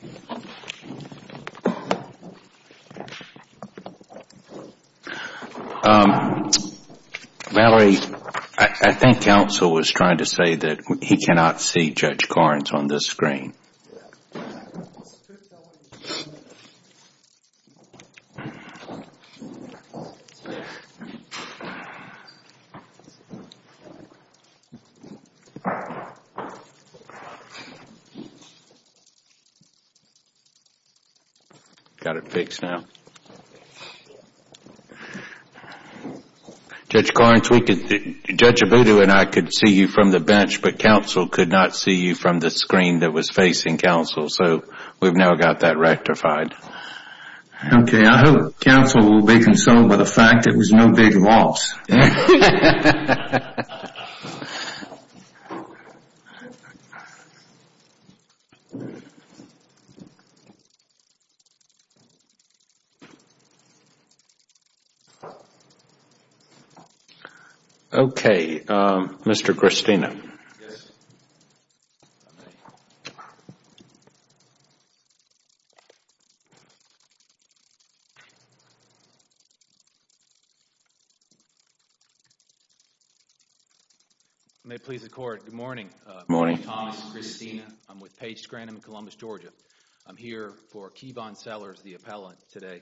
Valerie, I think counsel was trying to say that he cannot see Judge Garns on this screen. Judge Garns, Judge Abudu and I could see you from the bench, but counsel could not see you from the screen that was facing counsel, so we've now got that rectified. Okay, I hope counsel will be consoled by the fact that it was no big loss. Okay, Mr. Christina. Good morning, Thomas, Christina, I'm with Page Scranum in Columbus, Georgia. I'm here for Keyvon Sellers, the appellant, today.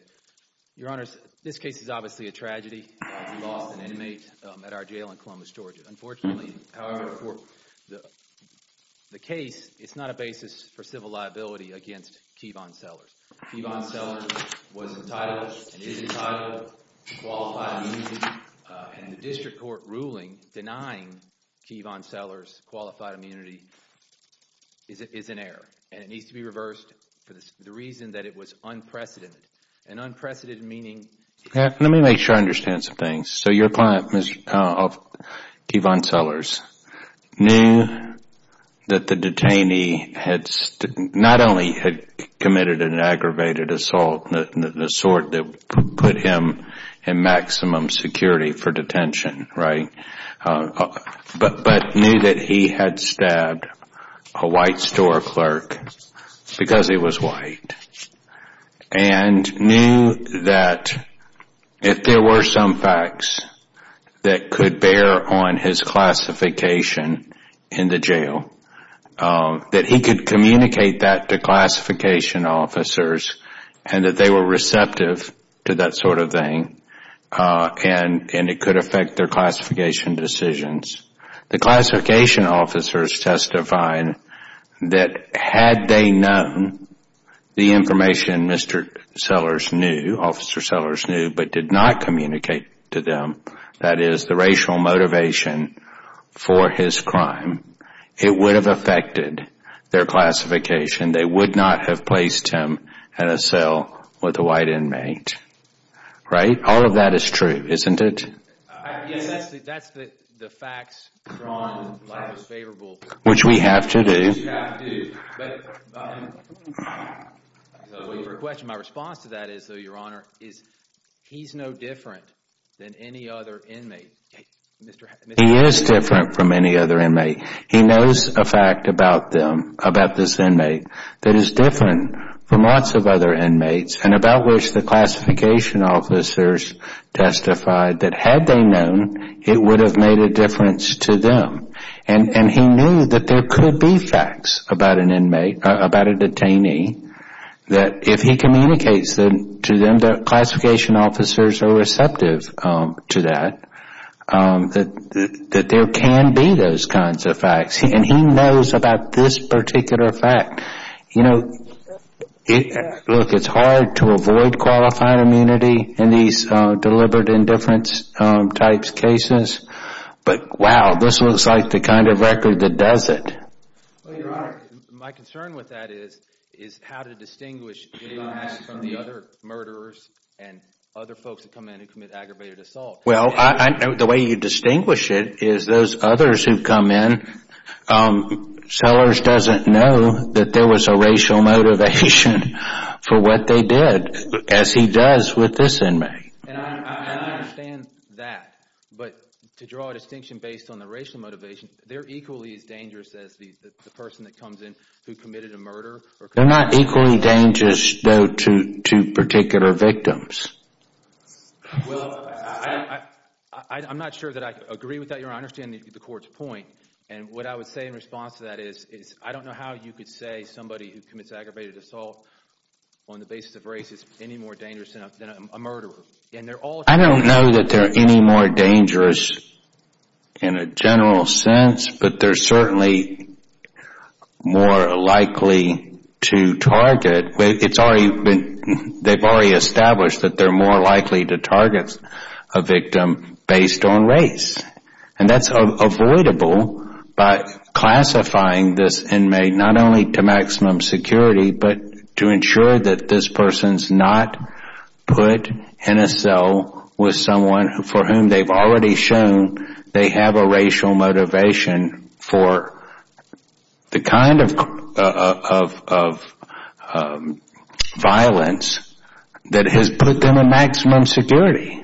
Your Honors, this case is obviously a tragedy. We lost an inmate at our jail in Columbus, Georgia. Unfortunately, however, for the case, it's not a basis for civil liability against Keyvon Sellers. Keyvon Sellers was entitled and is entitled to qualified immunity, and the district court ruling denying Keyvon Sellers qualified immunity is an error, and it needs to be reversed for the reason that it was unprecedented, and unprecedented meaning Let me make sure I understand some things. Your client, Keyvon Sellers, knew that the detainee not only had committed an aggravated assault, the sort that put him in maximum security for detention, but knew that he had If there were some facts that could bear on his classification in the jail, that he could communicate that to classification officers, and that they were receptive to that sort of thing, and it could affect their classification decisions. The classification officers testified that had they known the information Mr. Sellers knew, Officer Sellers knew, but did not communicate to them, that is, the racial motivation for his crime, it would have affected their classification. They would not have placed him in a cell with a white inmate. Right? All of that is true, isn't it? Yes, that's the facts drawn the most favorable. Which we have to do. Which we have to do. My response to that, Your Honor, is he's no different than any other inmate. He is different from any other inmate. He knows a fact about them, about this inmate, that is different from lots of other inmates, and about which the classification officers testified that had they known, it would have made a difference to them. And he knew that there could be facts about an inmate, about a detainee, that if he communicates to them that classification officers are receptive to that, that there can be those kinds of facts. And he knows about this particular fact. You know, look, it's hard to avoid qualified immunity in these deliberate indifference types of cases. But, wow, this looks like the kind of record that does it. Well, Your Honor, my concern with that is how to distinguish him from the other murderers and other folks that come in who commit aggravated assault. Well, the way you distinguish it is those others who come in, Sellers doesn't know that there was a racial motivation for what they did, as he does with this inmate. And I understand that. But to draw a distinction based on the racial motivation, they're equally as dangerous as the person that comes in who committed a murder. They're not equally dangerous, though, to particular victims. Well, I'm not sure that I agree with that, Your Honor. I understand the court's point. And what I would say in response to that is I don't know how you could say somebody who I don't know that they're any more dangerous in a general sense. But they're certainly more likely to target. They've already established that they're more likely to target a victim based on race. And that's avoidable by classifying this inmate not only to maximum security, but to ensure that this person's not put in a cell with someone for whom they've already shown they have a racial motivation for the kind of violence that has put them in maximum security.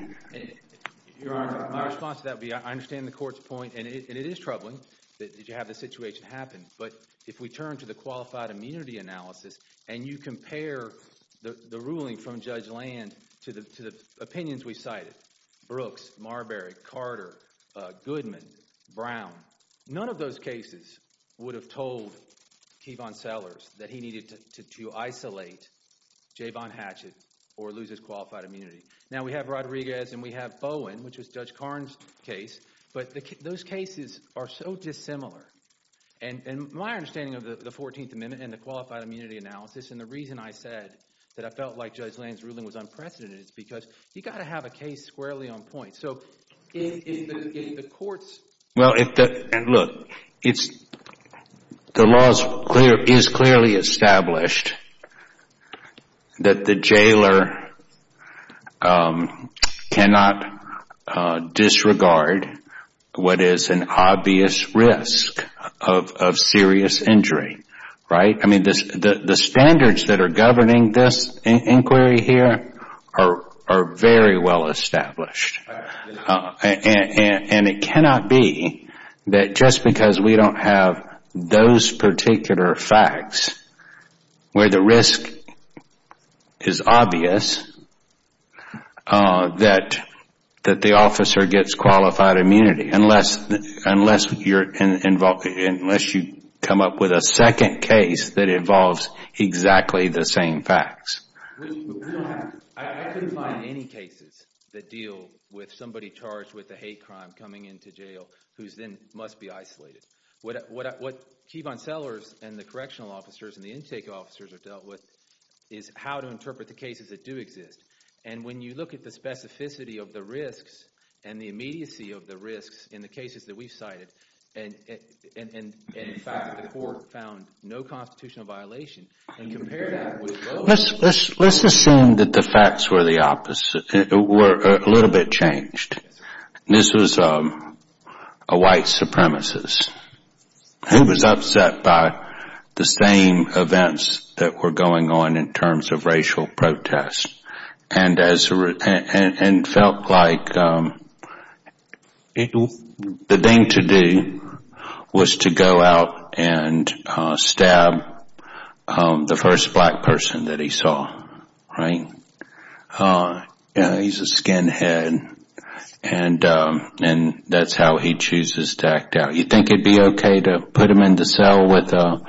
Your Honor, my response to that would be I understand the court's point. And it is troubling that you have this situation happen. But if we turn to the qualified immunity analysis and you compare the ruling from Judge Land to the opinions we cited, Brooks, Marbury, Carter, Goodman, Brown, none of those cases would have told Keevan Sellers that he needed to isolate Jayvon Hatchett or lose his qualified immunity. Now, we have Rodriguez and we have Bowen, which was Judge Karn's case. But those cases are so dissimilar. And my understanding of the 14th Amendment and the qualified immunity analysis and the reason I said that I felt like Judge Land's ruling was unprecedented is because you've got to have a case squarely on point. Well, look, the law is clearly established that the jailer cannot disregard what is an obvious risk of serious injury. The standards that are governing this inquiry here are very well established. And it cannot be that just because we don't have those particular facts where the risk is obvious that the officer gets qualified immunity unless you come up with a second case that involves exactly the same facts. I couldn't find any cases that deal with somebody charged with a hate crime coming into jail who then must be isolated. What Keevan Sellers and the correctional officers and the intake officers have dealt with is how to interpret the cases that do exist. And when you look at the specificity of the risks and the immediacy of the risks in the cases that we've cited and the fact that the court found no constitutional violation and compare that with Bowen. Let's assume that the facts were a little bit changed. This was a white supremacist who was upset by the same events that were going on in terms of racial protests and felt like the thing to do was to go out and stab the first black person that he saw. He's a skinhead and that's how he chooses to act out. Do you think it would be okay to put him in the cell with a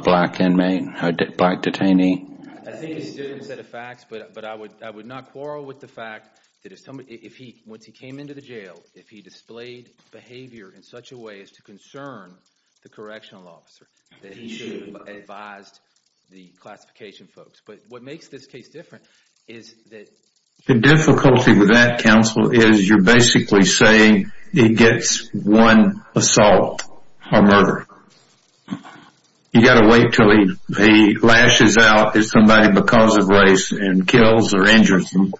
black inmate, a black detainee? I think it's a different set of facts, but I would not quarrel with the fact that once he came into the jail, if he displayed behavior in such a way as to concern the correctional officer that he should have advised the classification folks. But what makes this case different is that... The difficulty with that, counsel, is you're basically saying he gets one assault or murder. You've got to wait until he lashes out as somebody because of race and kills or injures them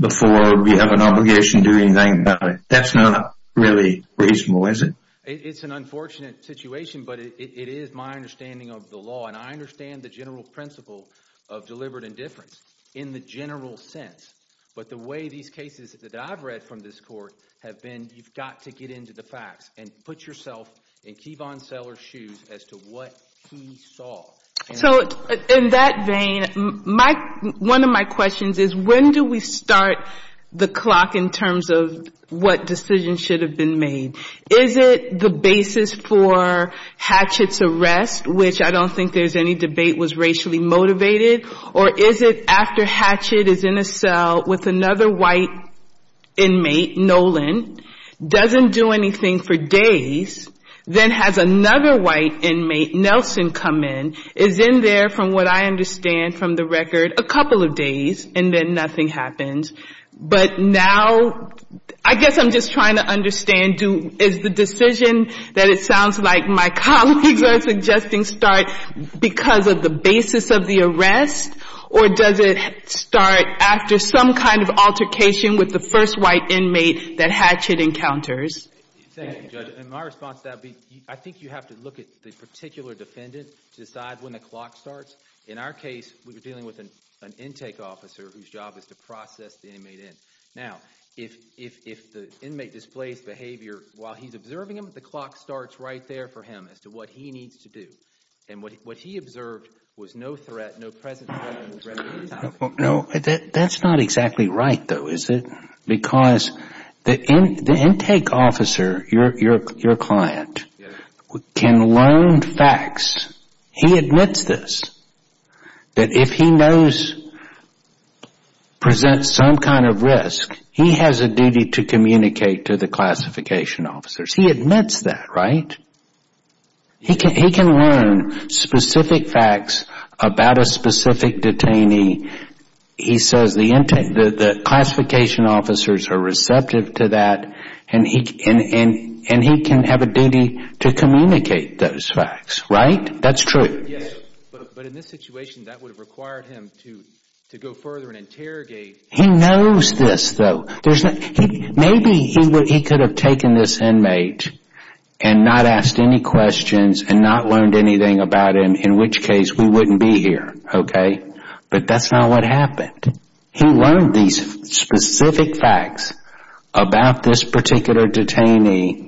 before we have an obligation to do anything about it. That's not really reasonable, is it? It's an unfortunate situation, but it is my understanding of the law, and I understand the general principle of deliberate indifference in the general sense. But the way these cases that I've read from this court have been you've got to get into the facts and put yourself in Kevon Seller's shoes as to what he saw. So in that vein, one of my questions is when do we start the clock in terms of what decisions should have been made? Is it the basis for Hatchett's arrest, which I don't think there's any debate was racially motivated, or is it after Hatchett is in a cell with another white inmate, Nolan, doesn't do anything for days, then has another white inmate, Nelson, come in, is in there from what I understand from the record a couple of days, and then nothing happens. But now I guess I'm just trying to understand is the decision that it sounds like my colleagues are suggesting start because of the basis of the arrest, or does it start after some kind of altercation with the first white inmate that Hatchett encounters? In my response to that, I think you have to look at the particular defendant to decide when the clock starts. In our case, we were dealing with an intake officer whose job is to process the inmate in. Now, if the inmate displays behavior while he's observing him, the clock starts right there for him as to what he needs to do. And what he observed was no threat, no present threat. No, that's not exactly right, though, is it? Because the intake officer, your client, can learn facts. He admits this, that if he knows, presents some kind of risk, he has a duty to communicate to the classification officers. He admits that, right? He can learn specific facts about a specific detainee. He says the classification officers are receptive to that, and he can have a duty to communicate those facts, right? That's true. Yes, but in this situation, that would have required him to go further and interrogate. He knows this, though. Maybe he could have taken this inmate and not asked any questions and not learned anything about him, in which case we wouldn't be here, okay? But that's not what happened. He learned these specific facts about this particular detainee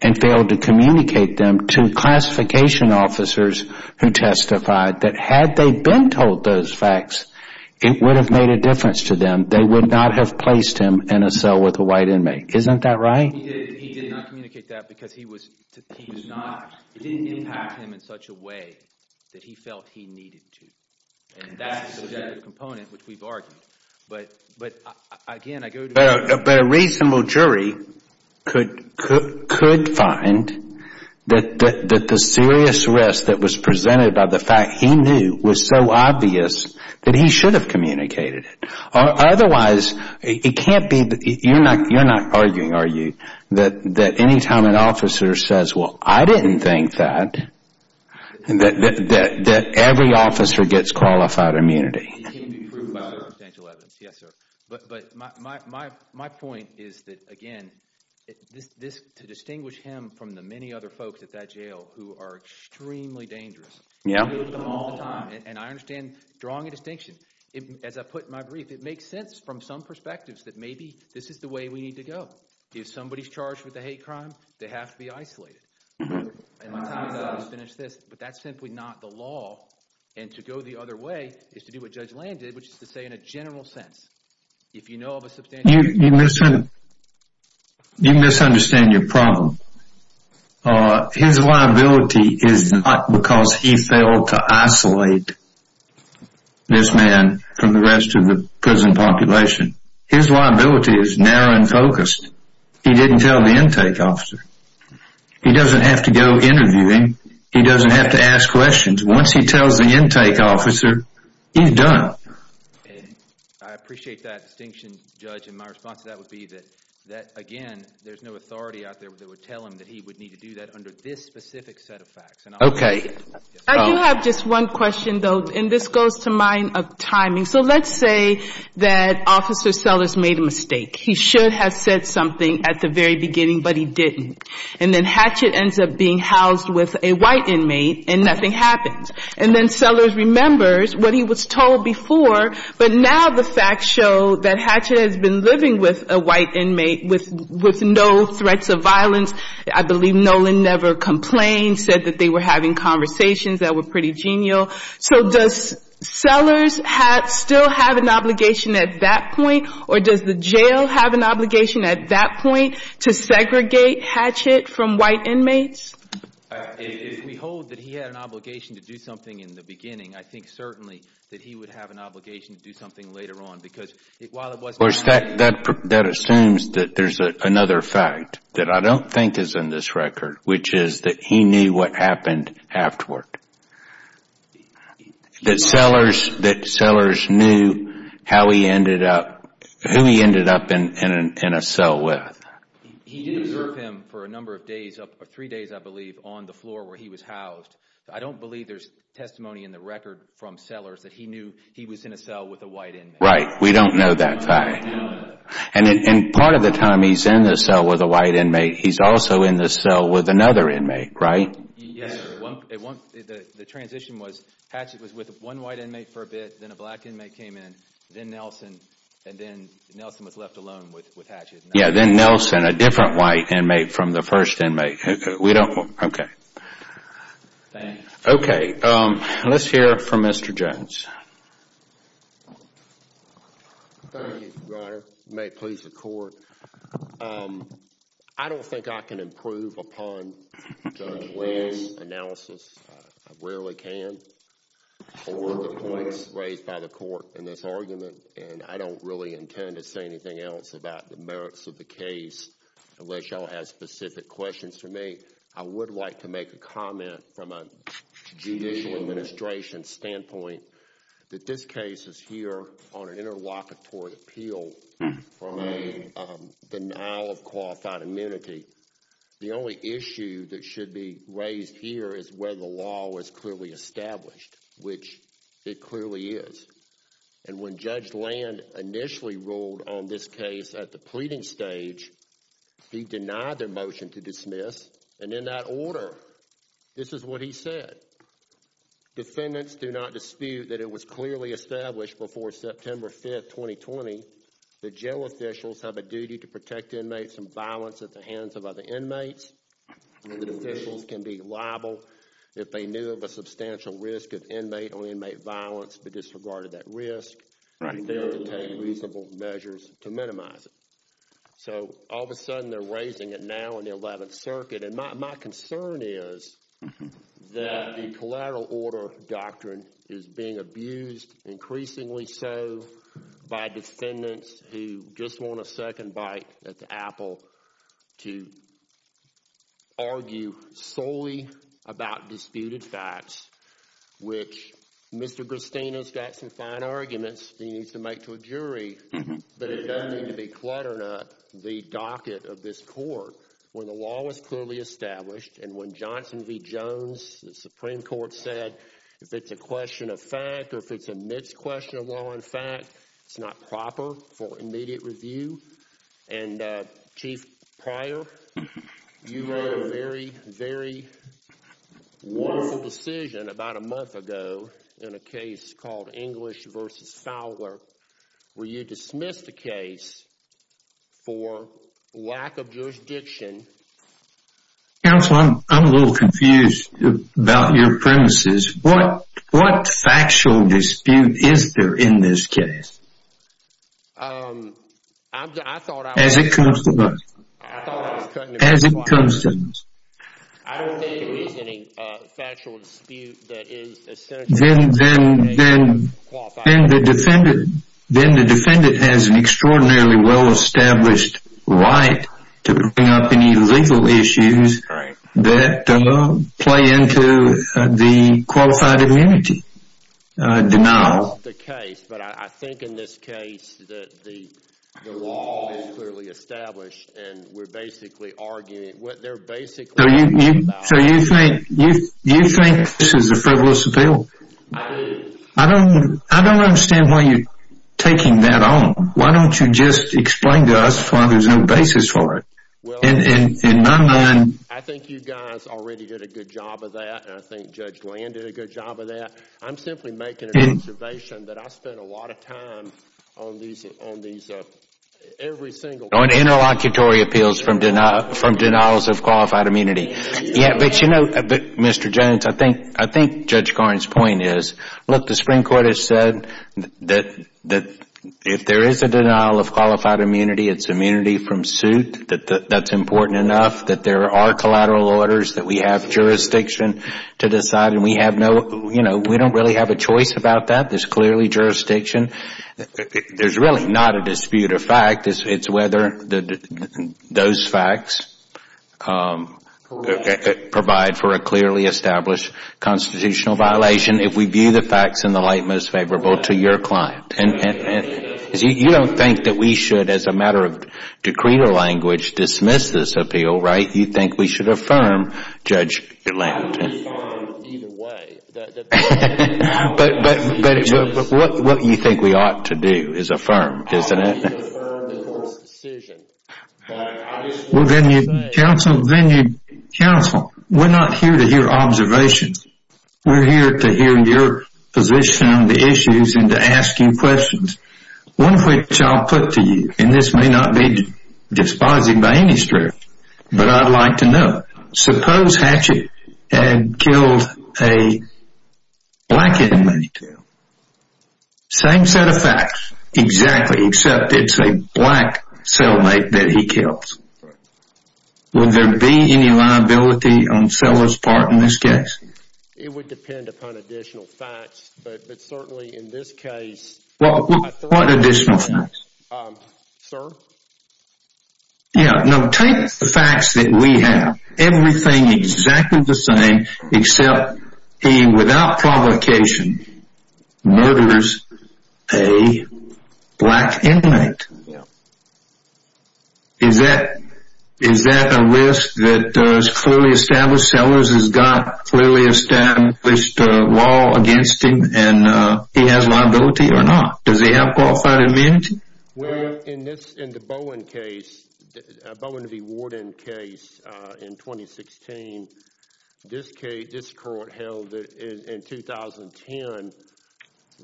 and failed to communicate them to classification officers who testified that, had they been told those facts, it would have made a difference to them. They would not have placed him in a cell with a white inmate. Isn't that right? He did not communicate that because it didn't impact him in such a way that he felt he needed to. And that's a general component, which we've argued. But, again, I go to you. But a reasonable jury could find that the serious risk that was presented by the fact he knew was so obvious that he should have communicated it. Otherwise, you're not arguing, are you, that any time an officer says, well, I didn't think that, that every officer gets qualified immunity? It can be proved by circumstantial evidence, yes, sir. But my point is that, again, to distinguish him from the many other folks at that jail who are extremely dangerous, and I understand drawing a distinction. As I put in my brief, it makes sense from some perspectives that maybe this is the way we need to go. If somebody's charged with a hate crime, they have to be isolated. And my time is up to finish this. But that's simply not the law. And to go the other way is to do what Judge Land did, which is to say in a general sense, if you know of a substantial… You misunderstand your problem. His liability is not because he failed to isolate this man from the rest of the prison population. His liability is narrow and focused. He didn't tell the intake officer. He doesn't have to go interviewing. He doesn't have to ask questions. Once he tells the intake officer, he's done. I appreciate that distinction, Judge, and my response to that would be that, again, there's no authority out there that would tell him that he would need to do that under this specific set of facts. Okay. I do have just one question, though, and this goes to mind of timing. So let's say that Officer Sellers made a mistake. He should have said something at the very beginning, but he didn't. And then Hatchett ends up being housed with a white inmate and nothing happens. And then Sellers remembers what he was told before, but now the facts show that Hatchett has been living with a white inmate with no threats of violence. I believe Nolan never complained, said that they were having conversations that were pretty genial. So does Sellers still have an obligation at that point, or does the jail have an obligation at that point to segregate Hatchett from white inmates? If we hold that he had an obligation to do something in the beginning, I think certainly that he would have an obligation to do something later on. That assumes that there's another fact that I don't think is in this record, which is that he knew what happened afterward, that Sellers knew who he ended up in a cell with. He did observe him for a number of days, three days, I believe, on the floor where he was housed. I don't believe there's testimony in the record from Sellers that he knew he was in a cell with a white inmate. Right. We don't know that fact. And part of the time he's in the cell with a white inmate, he's also in the cell with another inmate, right? Yes. The transition was Hatchett was with one white inmate for a bit, then a black inmate came in, then Nelson, and then Nelson was left alone with Hatchett. Yeah, then Nelson, a different white inmate from the first inmate. We don't know. OK. OK. Let's hear from Mr. Jones. Thank you, Your Honor. May it please the Court. I don't think I can improve upon Judge Williams' analysis. I rarely can for the points raised by the Court in this argument, and I don't really intend to say anything else about the merits of the case unless y'all have specific questions for me. I would like to make a comment from a judicial administration standpoint that this case is here on an interlocutory appeal from a denial of qualified immunity. The only issue that should be raised here is whether the law was clearly established, which it clearly is. And when Judge Land initially ruled on this case at the pleading stage, he denied their motion to dismiss. And in that order, this is what he said. Defendants do not dispute that it was clearly established before September 5th, 2020, that jail officials have a duty to protect inmates from violence at the hands of other inmates, that officials can be liable if they knew of a substantial risk of inmate or inmate violence but disregarded that risk, and that they would take reasonable measures to minimize it. So all of a sudden, they're raising it now in the Eleventh Circuit, and my concern is that the collateral order doctrine is being abused, increasingly so by defendants who just want a second bite at the apple to argue solely about disputed facts, which Mr. Gristino's got some fine arguments that he needs to make to a jury, but it doesn't need to be cluttered up the docket of this court. When the law was clearly established, and when Johnson v. Jones, the Supreme Court, said if it's a question of fact or if it's a misquestion of law and fact, it's not proper for immediate review, and Chief Pryor, you made a very, very wonderful decision about a month ago in a case called English v. Fowler where you dismissed a case for lack of jurisdiction. Counsel, I'm a little confused about your premises. What factual dispute is there in this case as it comes to us? I don't think there is any factual dispute that is essentially a qualified immunity. Then the defendant has an extraordinarily well-established right to bring up any legal issues that play into the qualified immunity denial. That's the case, but I think in this case the law is clearly established, and we're basically arguing – So you think this is a frivolous appeal? I do. I don't understand why you're taking that on. Why don't you just explain to us why there's no basis for it? In my mind – I think you guys already did a good job of that, and I think Judge Land did a good job of that. I'm simply making an observation that I spend a lot of time on every single case. On interlocutory appeals from denials of qualified immunity. Yeah, but you know, Mr. Jones, I think Judge Garne's point is, look, the Supreme Court has said that if there is a denial of qualified immunity, it's immunity from suit. That's important enough that there are collateral orders that we have jurisdiction to decide, and we have no – you know, we don't really have a choice about that. There's clearly jurisdiction. There's really not a dispute of fact. It's whether those facts provide for a clearly established constitutional violation if we view the facts in the light most favorable to your client. You don't think that we should, as a matter of decreed or language, dismiss this appeal, right? You think we should affirm Judge Land? I would respond either way. But what you think we ought to do is affirm, isn't it? I think we should affirm the court's decision. Well, then you counsel, we're not here to hear observations. We're here to hear your position on the issues and to ask you questions, one of which I'll put to you, and this may not be despising by any stretch, but I'd like to know. Suppose Hatchett had killed a black inmate. Same set of facts. Exactly, except it's a black cellmate that he kills. Would there be any liability on Sellers' part in this case? It would depend upon additional facts, but certainly in this case – What additional facts? Sir? Yeah, no, take the facts that we have. Everything exactly the same, except he, without provocation, murders a black inmate. Yeah. Is that a risk that is clearly established? Sellers has got a clearly established law against him, and he has liability or not? Does he have qualified immunity? Well, in the Bowen case, Bowen v. Warden case in 2016, this court held in 2010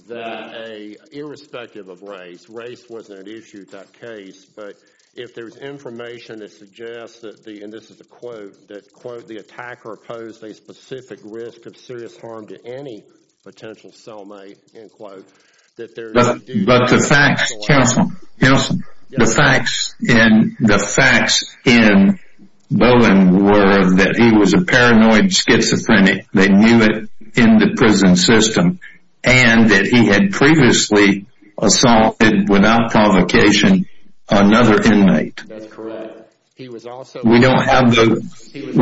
that irrespective of race, race wasn't an issue in that case, but if there's information that suggests that, and this is a quote, that, quote, the attacker posed a specific risk of serious harm to any potential cellmate, end quote, But the facts, counsel, the facts in Bowen were that he was a paranoid schizophrenic, they knew it in the prison system, and that he had previously assaulted, without provocation, another inmate. That's correct. We don't have those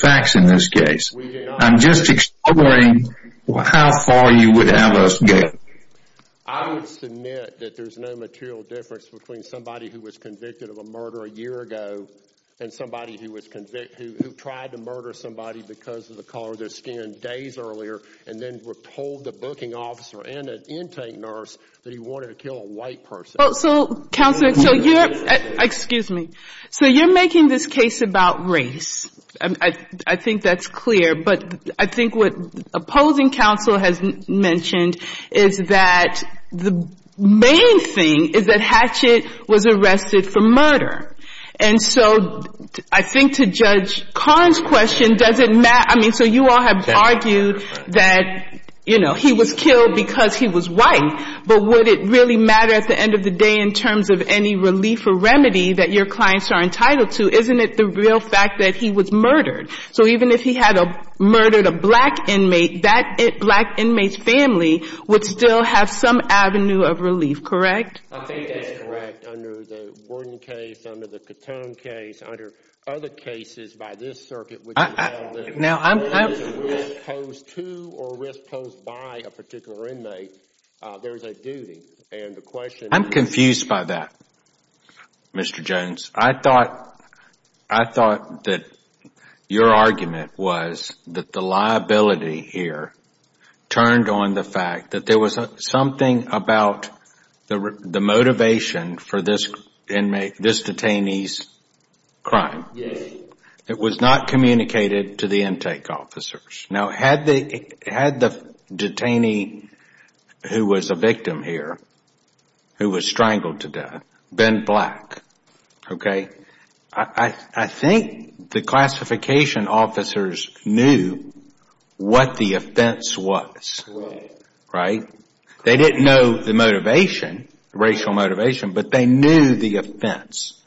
facts in this case. I'm just exploring how far you would have us go. I would submit that there's no material difference between somebody who was convicted of a murder a year ago and somebody who tried to murder somebody because of the color of their skin days earlier and then told the booking officer and an intake nurse that he wanted to kill a white person. So, counsel, you're making this case about race. I think that's clear. But I think what opposing counsel has mentioned is that the main thing is that Hatchet was arrested for murder. And so I think to Judge Kahn's question, does it matter? I mean, so you all have argued that, you know, he was killed because he was white, but would it really matter at the end of the day in terms of any relief or remedy that your clients are entitled to? Isn't it the real fact that he was murdered? So even if he had murdered a black inmate, that black inmate's family would still have some avenue of relief, correct? I think that's correct. Under the Worden case, under the Cotone case, under other cases by this circuit, which is a risk posed to or risk posed by a particular inmate, there's a duty. And the question is— I'm confused by that, Mr. Jones. I thought that your argument was that the liability here turned on the fact that there was something about the motivation for this detainee's crime. Yes. It was not communicated to the intake officers. Now, had the detainee who was a victim here, who was strangled to death, been black, okay, I think the classification officers knew what the offense was, right? They didn't know the motivation, racial motivation, but they knew the offense.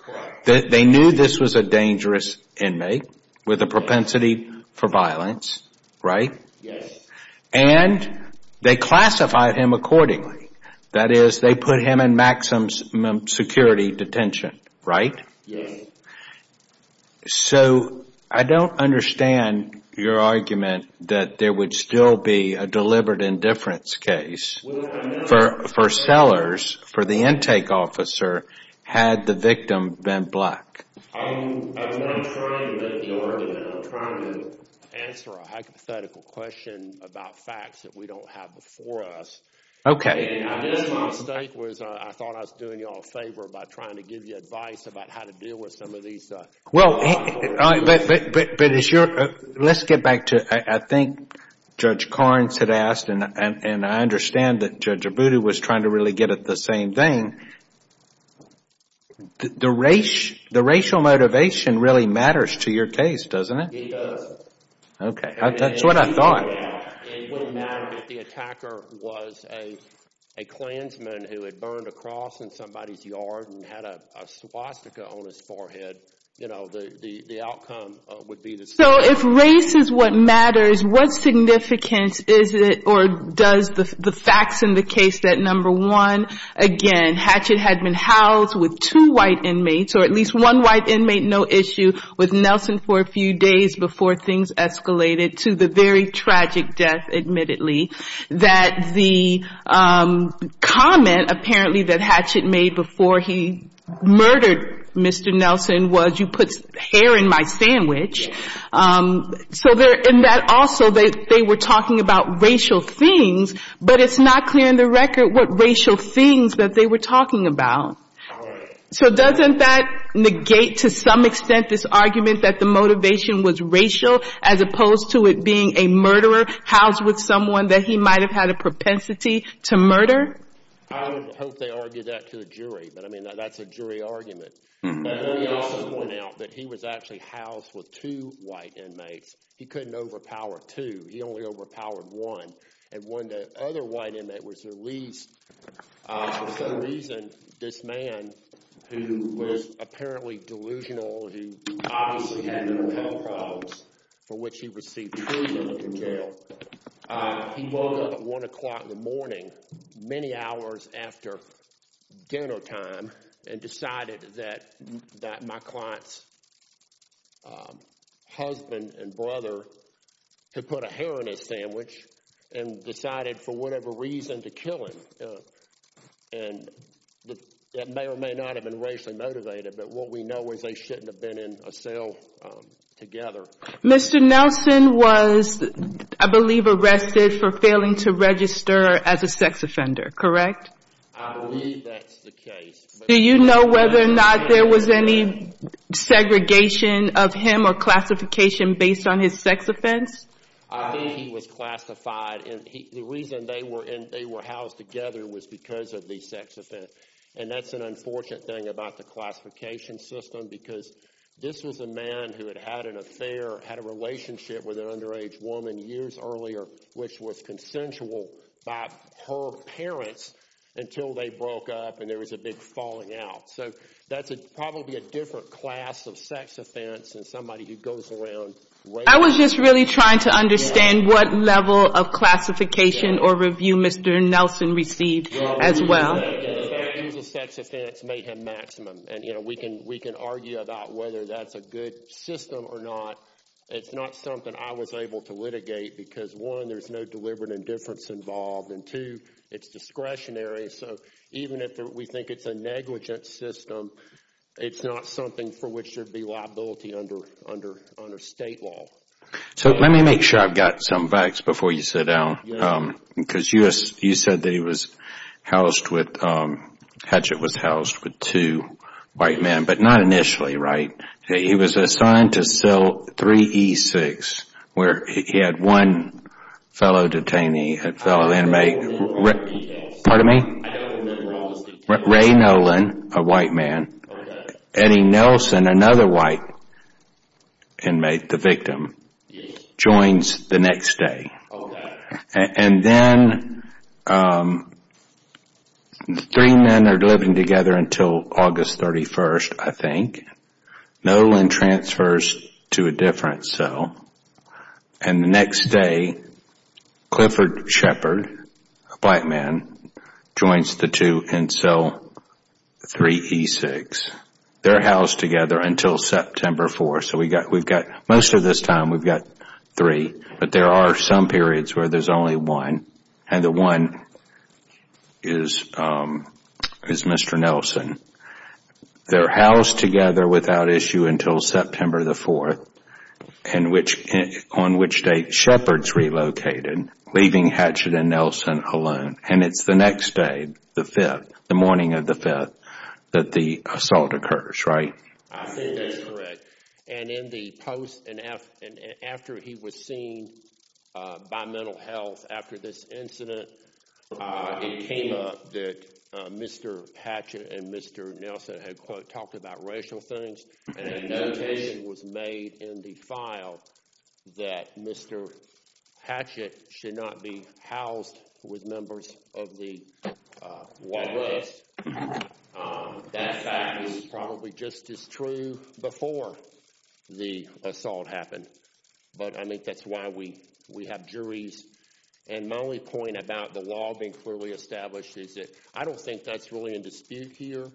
They knew this was a dangerous inmate with a propensity for violence, right? Yes. And they classified him accordingly. That is, they put him in maximum security detention, right? Yes. So, I don't understand your argument that there would still be a deliberate indifference case for sellers, for the intake officer, had the victim been black. I'm not trying to make the argument. I'm trying to answer a hypothetical question about facts that we don't have before us. Okay. My mistake was I thought I was doing you all a favor by trying to give you advice about how to deal with some of these. Well, but let's get back to, I think Judge Carnes had asked, and I understand that Judge Abudu was trying to really get at the same thing. The racial motivation really matters to your case, doesn't it? It does. Okay. That's what I thought. It wouldn't matter if the attacker was a Klansman who had burned a cross in somebody's yard and had a swastika on his forehead. You know, the outcome would be the same. So, if race is what matters, what significance is it or does the facts in the case that, number one, again, Hatchet had been housed with two white inmates, or at least one white inmate, no issue, with Nelson for a few days before things escalated to the very tragic death, admittedly, that the comment, apparently, that Hatchet made before he murdered Mr. Nelson was, you put hair in my sandwich. So in that also they were talking about racial things, but it's not clear in the record what racial things that they were talking about. So doesn't that negate to some extent this argument that the motivation was racial, as opposed to it being a murderer housed with someone that he might have had a propensity to murder? I don't hope they argue that to a jury, but, I mean, that's a jury argument. Let me also point out that he was actually housed with two white inmates. He couldn't overpower two. He only overpowered one. And when the other white inmate was released, for some reason, this man, who was apparently delusional, who obviously had mental health problems, for which he received treason from jail, he woke up at 1 o'clock in the morning, many hours after dinner time, and decided that my client's husband and brother had put a hair in his sandwich and decided, for whatever reason, to kill him. And that may or may not have been racially motivated, but what we know is they shouldn't have been in a cell together. Mr. Nelson was, I believe, arrested for failing to register as a sex offender, correct? I believe that's the case. Do you know whether or not there was any segregation of him or classification based on his sex offense? I believe he was classified, and the reason they were housed together was because of the sex offense. And that's an unfortunate thing about the classification system, because this was a man who had had an affair, had a relationship with an underage woman years earlier, which was consensual by her parents, until they broke up and there was a big falling out. So that's probably a different class of sex offense than somebody who goes around raping people. I was just really trying to understand what level of classification or review Mr. Nelson received as well. The sex offense may have maximum, and we can argue about whether that's a good system or not. It's not something I was able to litigate, because one, there's no deliberate indifference involved, and two, it's discretionary, so even if we think it's a negligent system, it's not something for which there would be liability under state law. So let me make sure I've got some facts before you sit down, because you said that he was housed with, Hatchet was housed with two white men, but not initially, right? He was assigned to cell 3E6, where he had one fellow detainee, a fellow inmate. Pardon me? Ray Nolan, a white man. Eddie Nelson, another white inmate, the victim, joins the next day. And then three men are living together until August 31st, I think. Nolan transfers to a different cell, and the next day, Clifford Shepard, a black man, joins the two in cell 3E6. They're housed together until September 4th, so most of this time we've got three, but there are some periods where there's only one, and the one is Mr. Nelson. They're housed together without issue until September 4th, on which day Shepard's relocated, leaving Hatchet and Nelson alone, and it's the next day, the 5th, the morning of the 5th, that the assault occurs, right? I think that's correct. And in the post, and after he was seen by mental health after this incident, it came up that Mr. Hatchet and Mr. Nelson had, quote, talked about racial things, and a notation was made in the file that Mr. Hatchet should not be housed with members of the white list. That fact is probably just as true before the assault happened, but I think that's why we have juries. And my only point about the law being clearly established is that I don't think that's really in dispute here,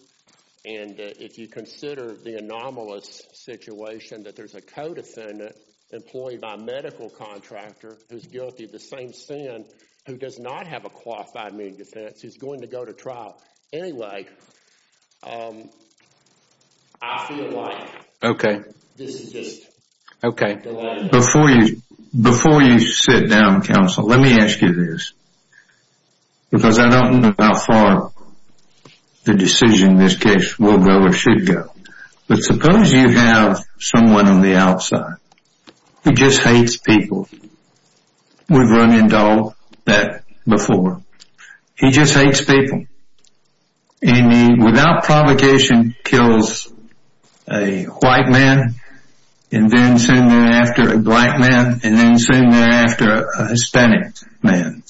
and if you consider the anomalous situation that there's a co-defendant employed by a medical contractor who's guilty of the same sin, who does not have a qualified main defense, who's going to go to trial anyway, I feel like this is just the law. Before you sit down, counsel, let me ask you this, because I don't know how far the decision in this case will go We've run into all that before. He just hates people. And he, without provocation, kills a white man, and then soon thereafter a black man, and then soon thereafter a Hispanic man.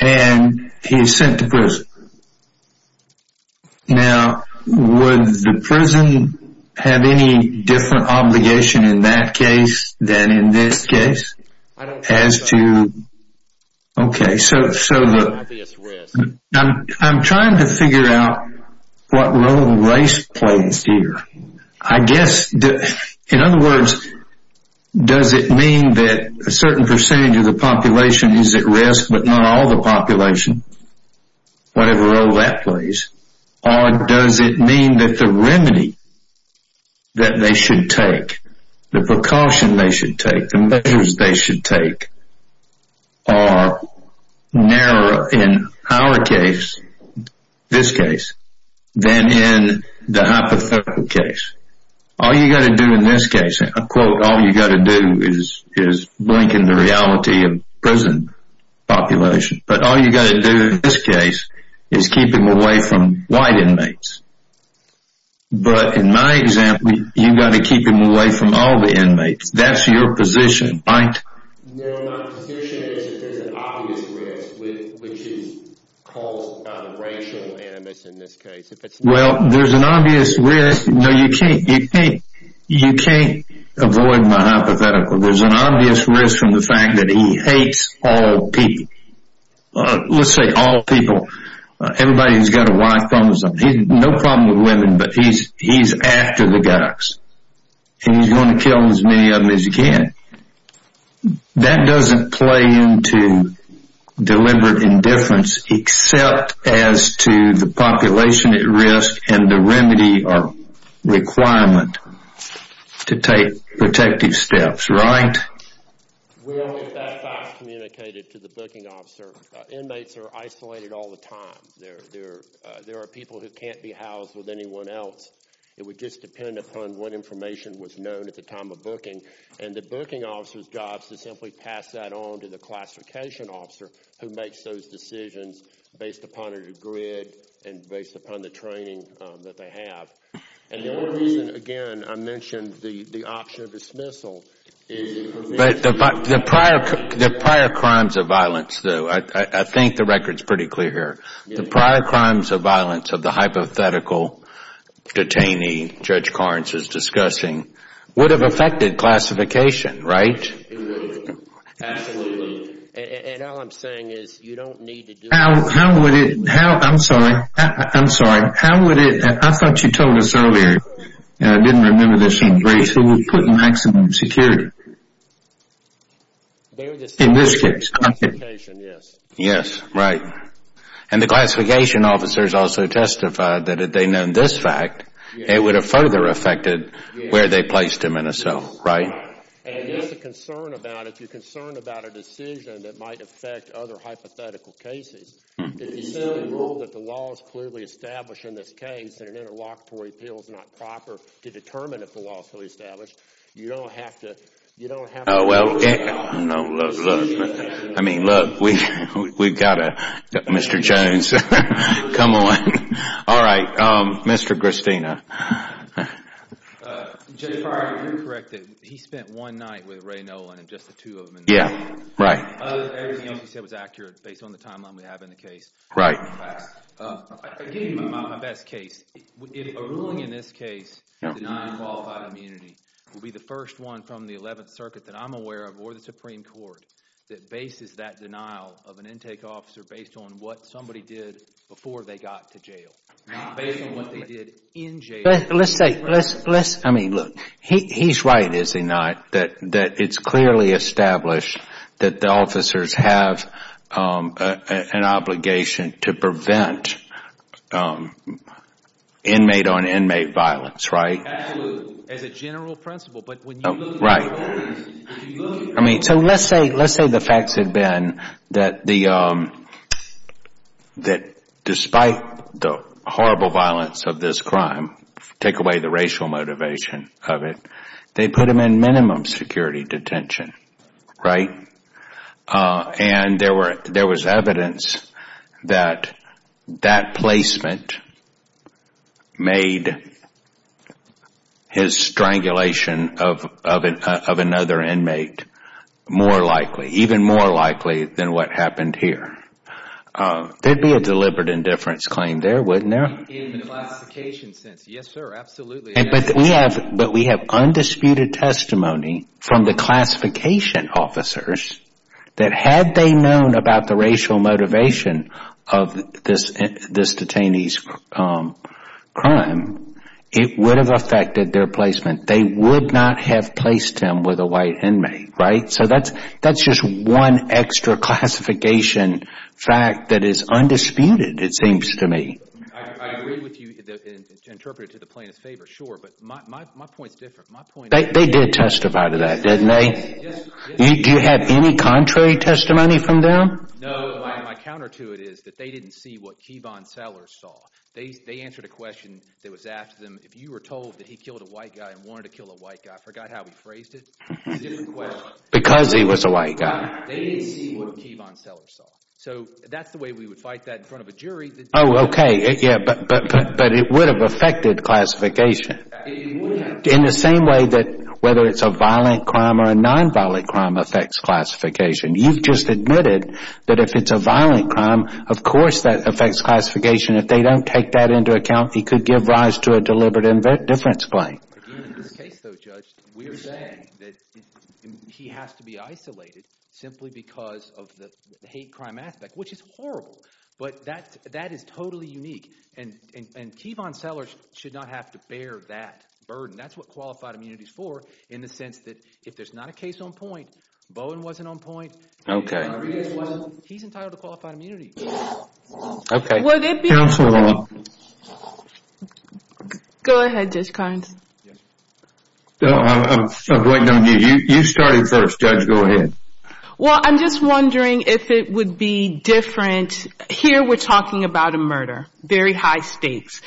And he's sent to prison. Now, would the prison have any different obligation in that case than in this case? I don't think so. Okay, so I'm trying to figure out what role race plays here. I guess, in other words, does it mean that a certain percentage of the population is at risk, but not all the population? Whatever role that plays. Or does it mean that the remedy that they should take, the precaution they should take, the measures they should take, are narrower in our case, this case, than in the hypothetical case? All you've got to do in this case, and I quote, all you've got to do is blink in the reality of prison population, but all you've got to do in this case is keep him away from white inmates. But in my example, you've got to keep him away from all the inmates. That's your position, right? No, my position is that there's an obvious risk, which is caused by the racial animus in this case. Well, there's an obvious risk. No, you can't avoid my hypothetical. There's an obvious risk from the fact that he hates all people. Let's say all people, everybody who's got a wife, he has no problem with women, but he's after the guys. And he's going to kill as many of them as he can. That doesn't play into deliberate indifference, except as to the population at risk and the remedy or requirement to take protective steps, right? Well, if that's how it's communicated to the booking officer, inmates are isolated all the time. There are people who can't be housed with anyone else. It would just depend upon what information was known at the time of booking, and the booking officer's job is to simply pass that on to the classification officer who makes those decisions based upon a degree and based upon the training that they have. And the only reason, again, I mentioned the option of dismissal. But the prior crimes of violence, though, I think the record's pretty clear here. The prior crimes of violence of the hypothetical detainee Judge Carnes is discussing would have affected classification, right? Absolutely. And all I'm saying is you don't need to do that. I'm sorry. I thought you told us earlier, and I didn't remember this in grace, that we put maximum security in this case. Yes, right. And the classification officers also testified that if they'd known this fact, it would have further affected where they placed him in a cell, right? Right. And here's the concern about it. If you're concerned about a decision that might affect other hypothetical cases, if you still rule that the law is clearly established in this case and an interlocutory appeal is not proper to determine if the law is fully established, you don't have to do that. No, look, look. I mean, look, we've got to, Mr. Jones, come on. All right. Mr. Gristino. Judge Breyer, you're correct that he spent one night with Ray Nolan and just the two of them in this case. Yeah, right. Everything else you said was accurate based on the timeline we have in the case. Right. I'll give you my best case. A ruling in this case denying qualified immunity would be the first one from the 11th Circuit that I'm aware of or the Supreme Court that bases that denial of an intake officer based on what somebody did before they got to jail, not based on what they did in jail. Let's say, I mean, look, he's right, is he not, that it's clearly established that the officers have an obligation to prevent inmate-on-inmate violence, right? Absolutely. As a general principle. Right. I mean, so let's say the facts had been that despite the horrible violence of this crime, take away the racial motivation of it, they put him in minimum security detention, right? And there was evidence that that placement made his strangulation of another inmate more likely, even more likely than what happened here. There'd be a deliberate indifference claim there, wouldn't there? In the classification sense, yes, sir, absolutely. But we have undisputed testimony from the classification officers that had they known about the racial motivation of this detainee's crime, it would have affected their placement. They would not have placed him with a white inmate, right? So that's just one extra classification fact that is undisputed, it seems to me. I agree with you to interpret it to the plaintiff's favor, sure, but my point is different. They did testify to that, didn't they? Do you have any contrary testimony from them? No, my counter to it is that they didn't see what Keevon Sellers saw. They answered a question that was asked of them, if you were told that he killed a white guy and wanted to kill a white guy, I forgot how he phrased it, it's a different question. Because he was a white guy. They didn't see what Keevon Sellers saw. So that's the way we would fight that in front of a jury. Oh, okay, yeah, but it would have affected classification. In the same way that whether it's a violent crime or a nonviolent crime affects classification. You've just admitted that if it's a violent crime, of course that affects classification. If they don't take that into account, he could give rise to a deliberate indifference claim. In this case, though, Judge, we are saying that he has to be isolated simply because of the hate crime aspect, which is horrible. But that is totally unique. And Keevon Sellers should not have to bear that burden. That's what qualified immunity is for, in the sense that if there's not a case on point, Bowen wasn't on point, he's entitled to qualified immunity. Okay. Counsel, hold on. Go ahead, Judge Carnes. I'm waiting on you. You started first, Judge, go ahead. Well, I'm just wondering if it would be different, here we're talking about a murder, very high stakes.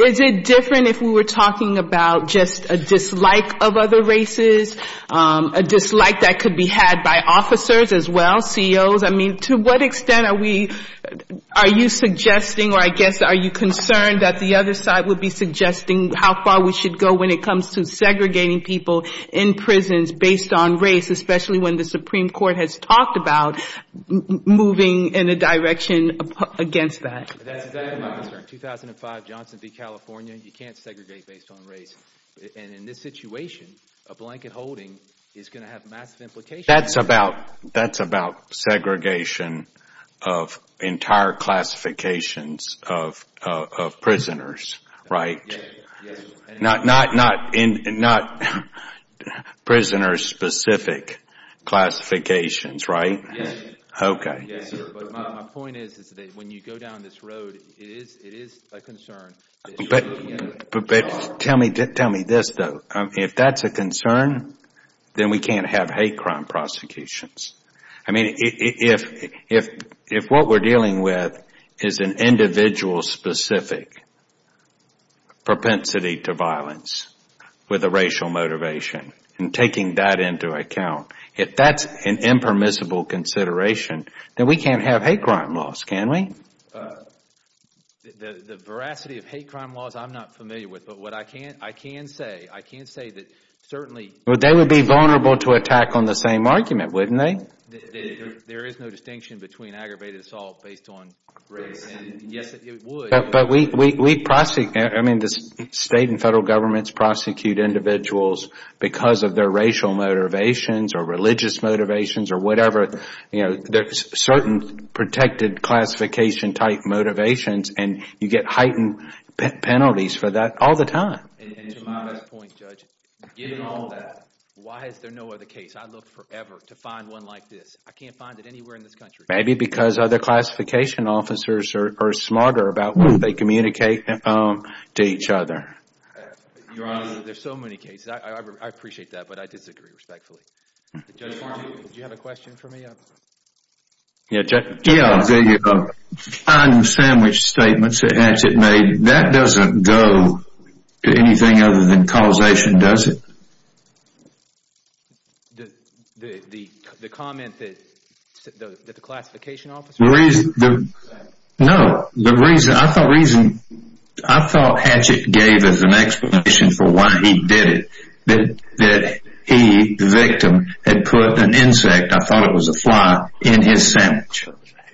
Is it different if we were talking about just a dislike of other races, a dislike that could be had by officers as well, CEOs? I mean, to what extent are we, are you suggesting or I guess are you concerned that the other side would be suggesting how far we should go when it comes to segregating people in prisons based on race, especially when the Supreme Court has talked about moving in a direction against that? That's exactly my concern. In 2005, Johnson v. California, you can't segregate based on race. And in this situation, a blanket holding is going to have massive implications. That's about segregation of entire classifications of prisoners, right? Not prisoner-specific classifications, right? Yes. Okay. My point is that when you go down this road, it is a concern. But tell me this, though. If that's a concern, then we can't have hate crime prosecutions. I mean, if what we're dealing with is an individual-specific propensity to violence with a racial motivation and taking that into account, if that's an impermissible consideration, then we can't have hate crime laws, can we? The veracity of hate crime laws I'm not familiar with. But what I can say, I can say that certainly they would be vulnerable to attack on the same argument, wouldn't they? There is no distinction between aggravated assault based on race. Yes, it would. But we prosecute, I mean, the state and federal governments prosecute individuals because of their racial motivations or religious motivations or whatever. There are certain protected classification-type motivations, and you get heightened penalties for that all the time. And to my best point, Judge, given all that, why is there no other case? I've looked forever to find one like this. I can't find it anywhere in this country. Maybe because other classification officers are smarter about what they communicate to each other. Your Honor, there are so many cases. I appreciate that, but I disagree respectfully. Judge Martin, did you have a question for me? Yeah, Judge. Yeah, the flying sandwich statements that Hatchett made, that doesn't go to anything other than causation, does it? The comment that the classification officer made? No, the reason, I thought Hatchett gave as an explanation for why he did it, that he, the victim, had put an insect, I thought it was a fly, in his sandwich.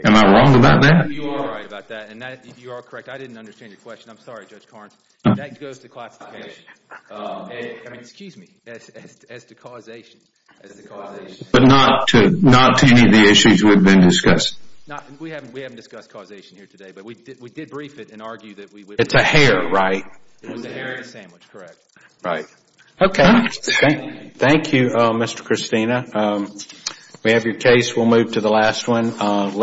Am I wrong about that? You are right about that, and you are correct. I didn't understand your question. I'm sorry, Judge Carnes. That goes to classification. I mean, excuse me, as to causation, as to causation. But not to any of the issues we've been discussing? We haven't discussed causation here today, but we did brief it and argue that we would- It's a hare, right? It was a hare in a sandwich, correct. Right. Okay. Thank you, Mr. Christina. We have your case. We'll move to the last one.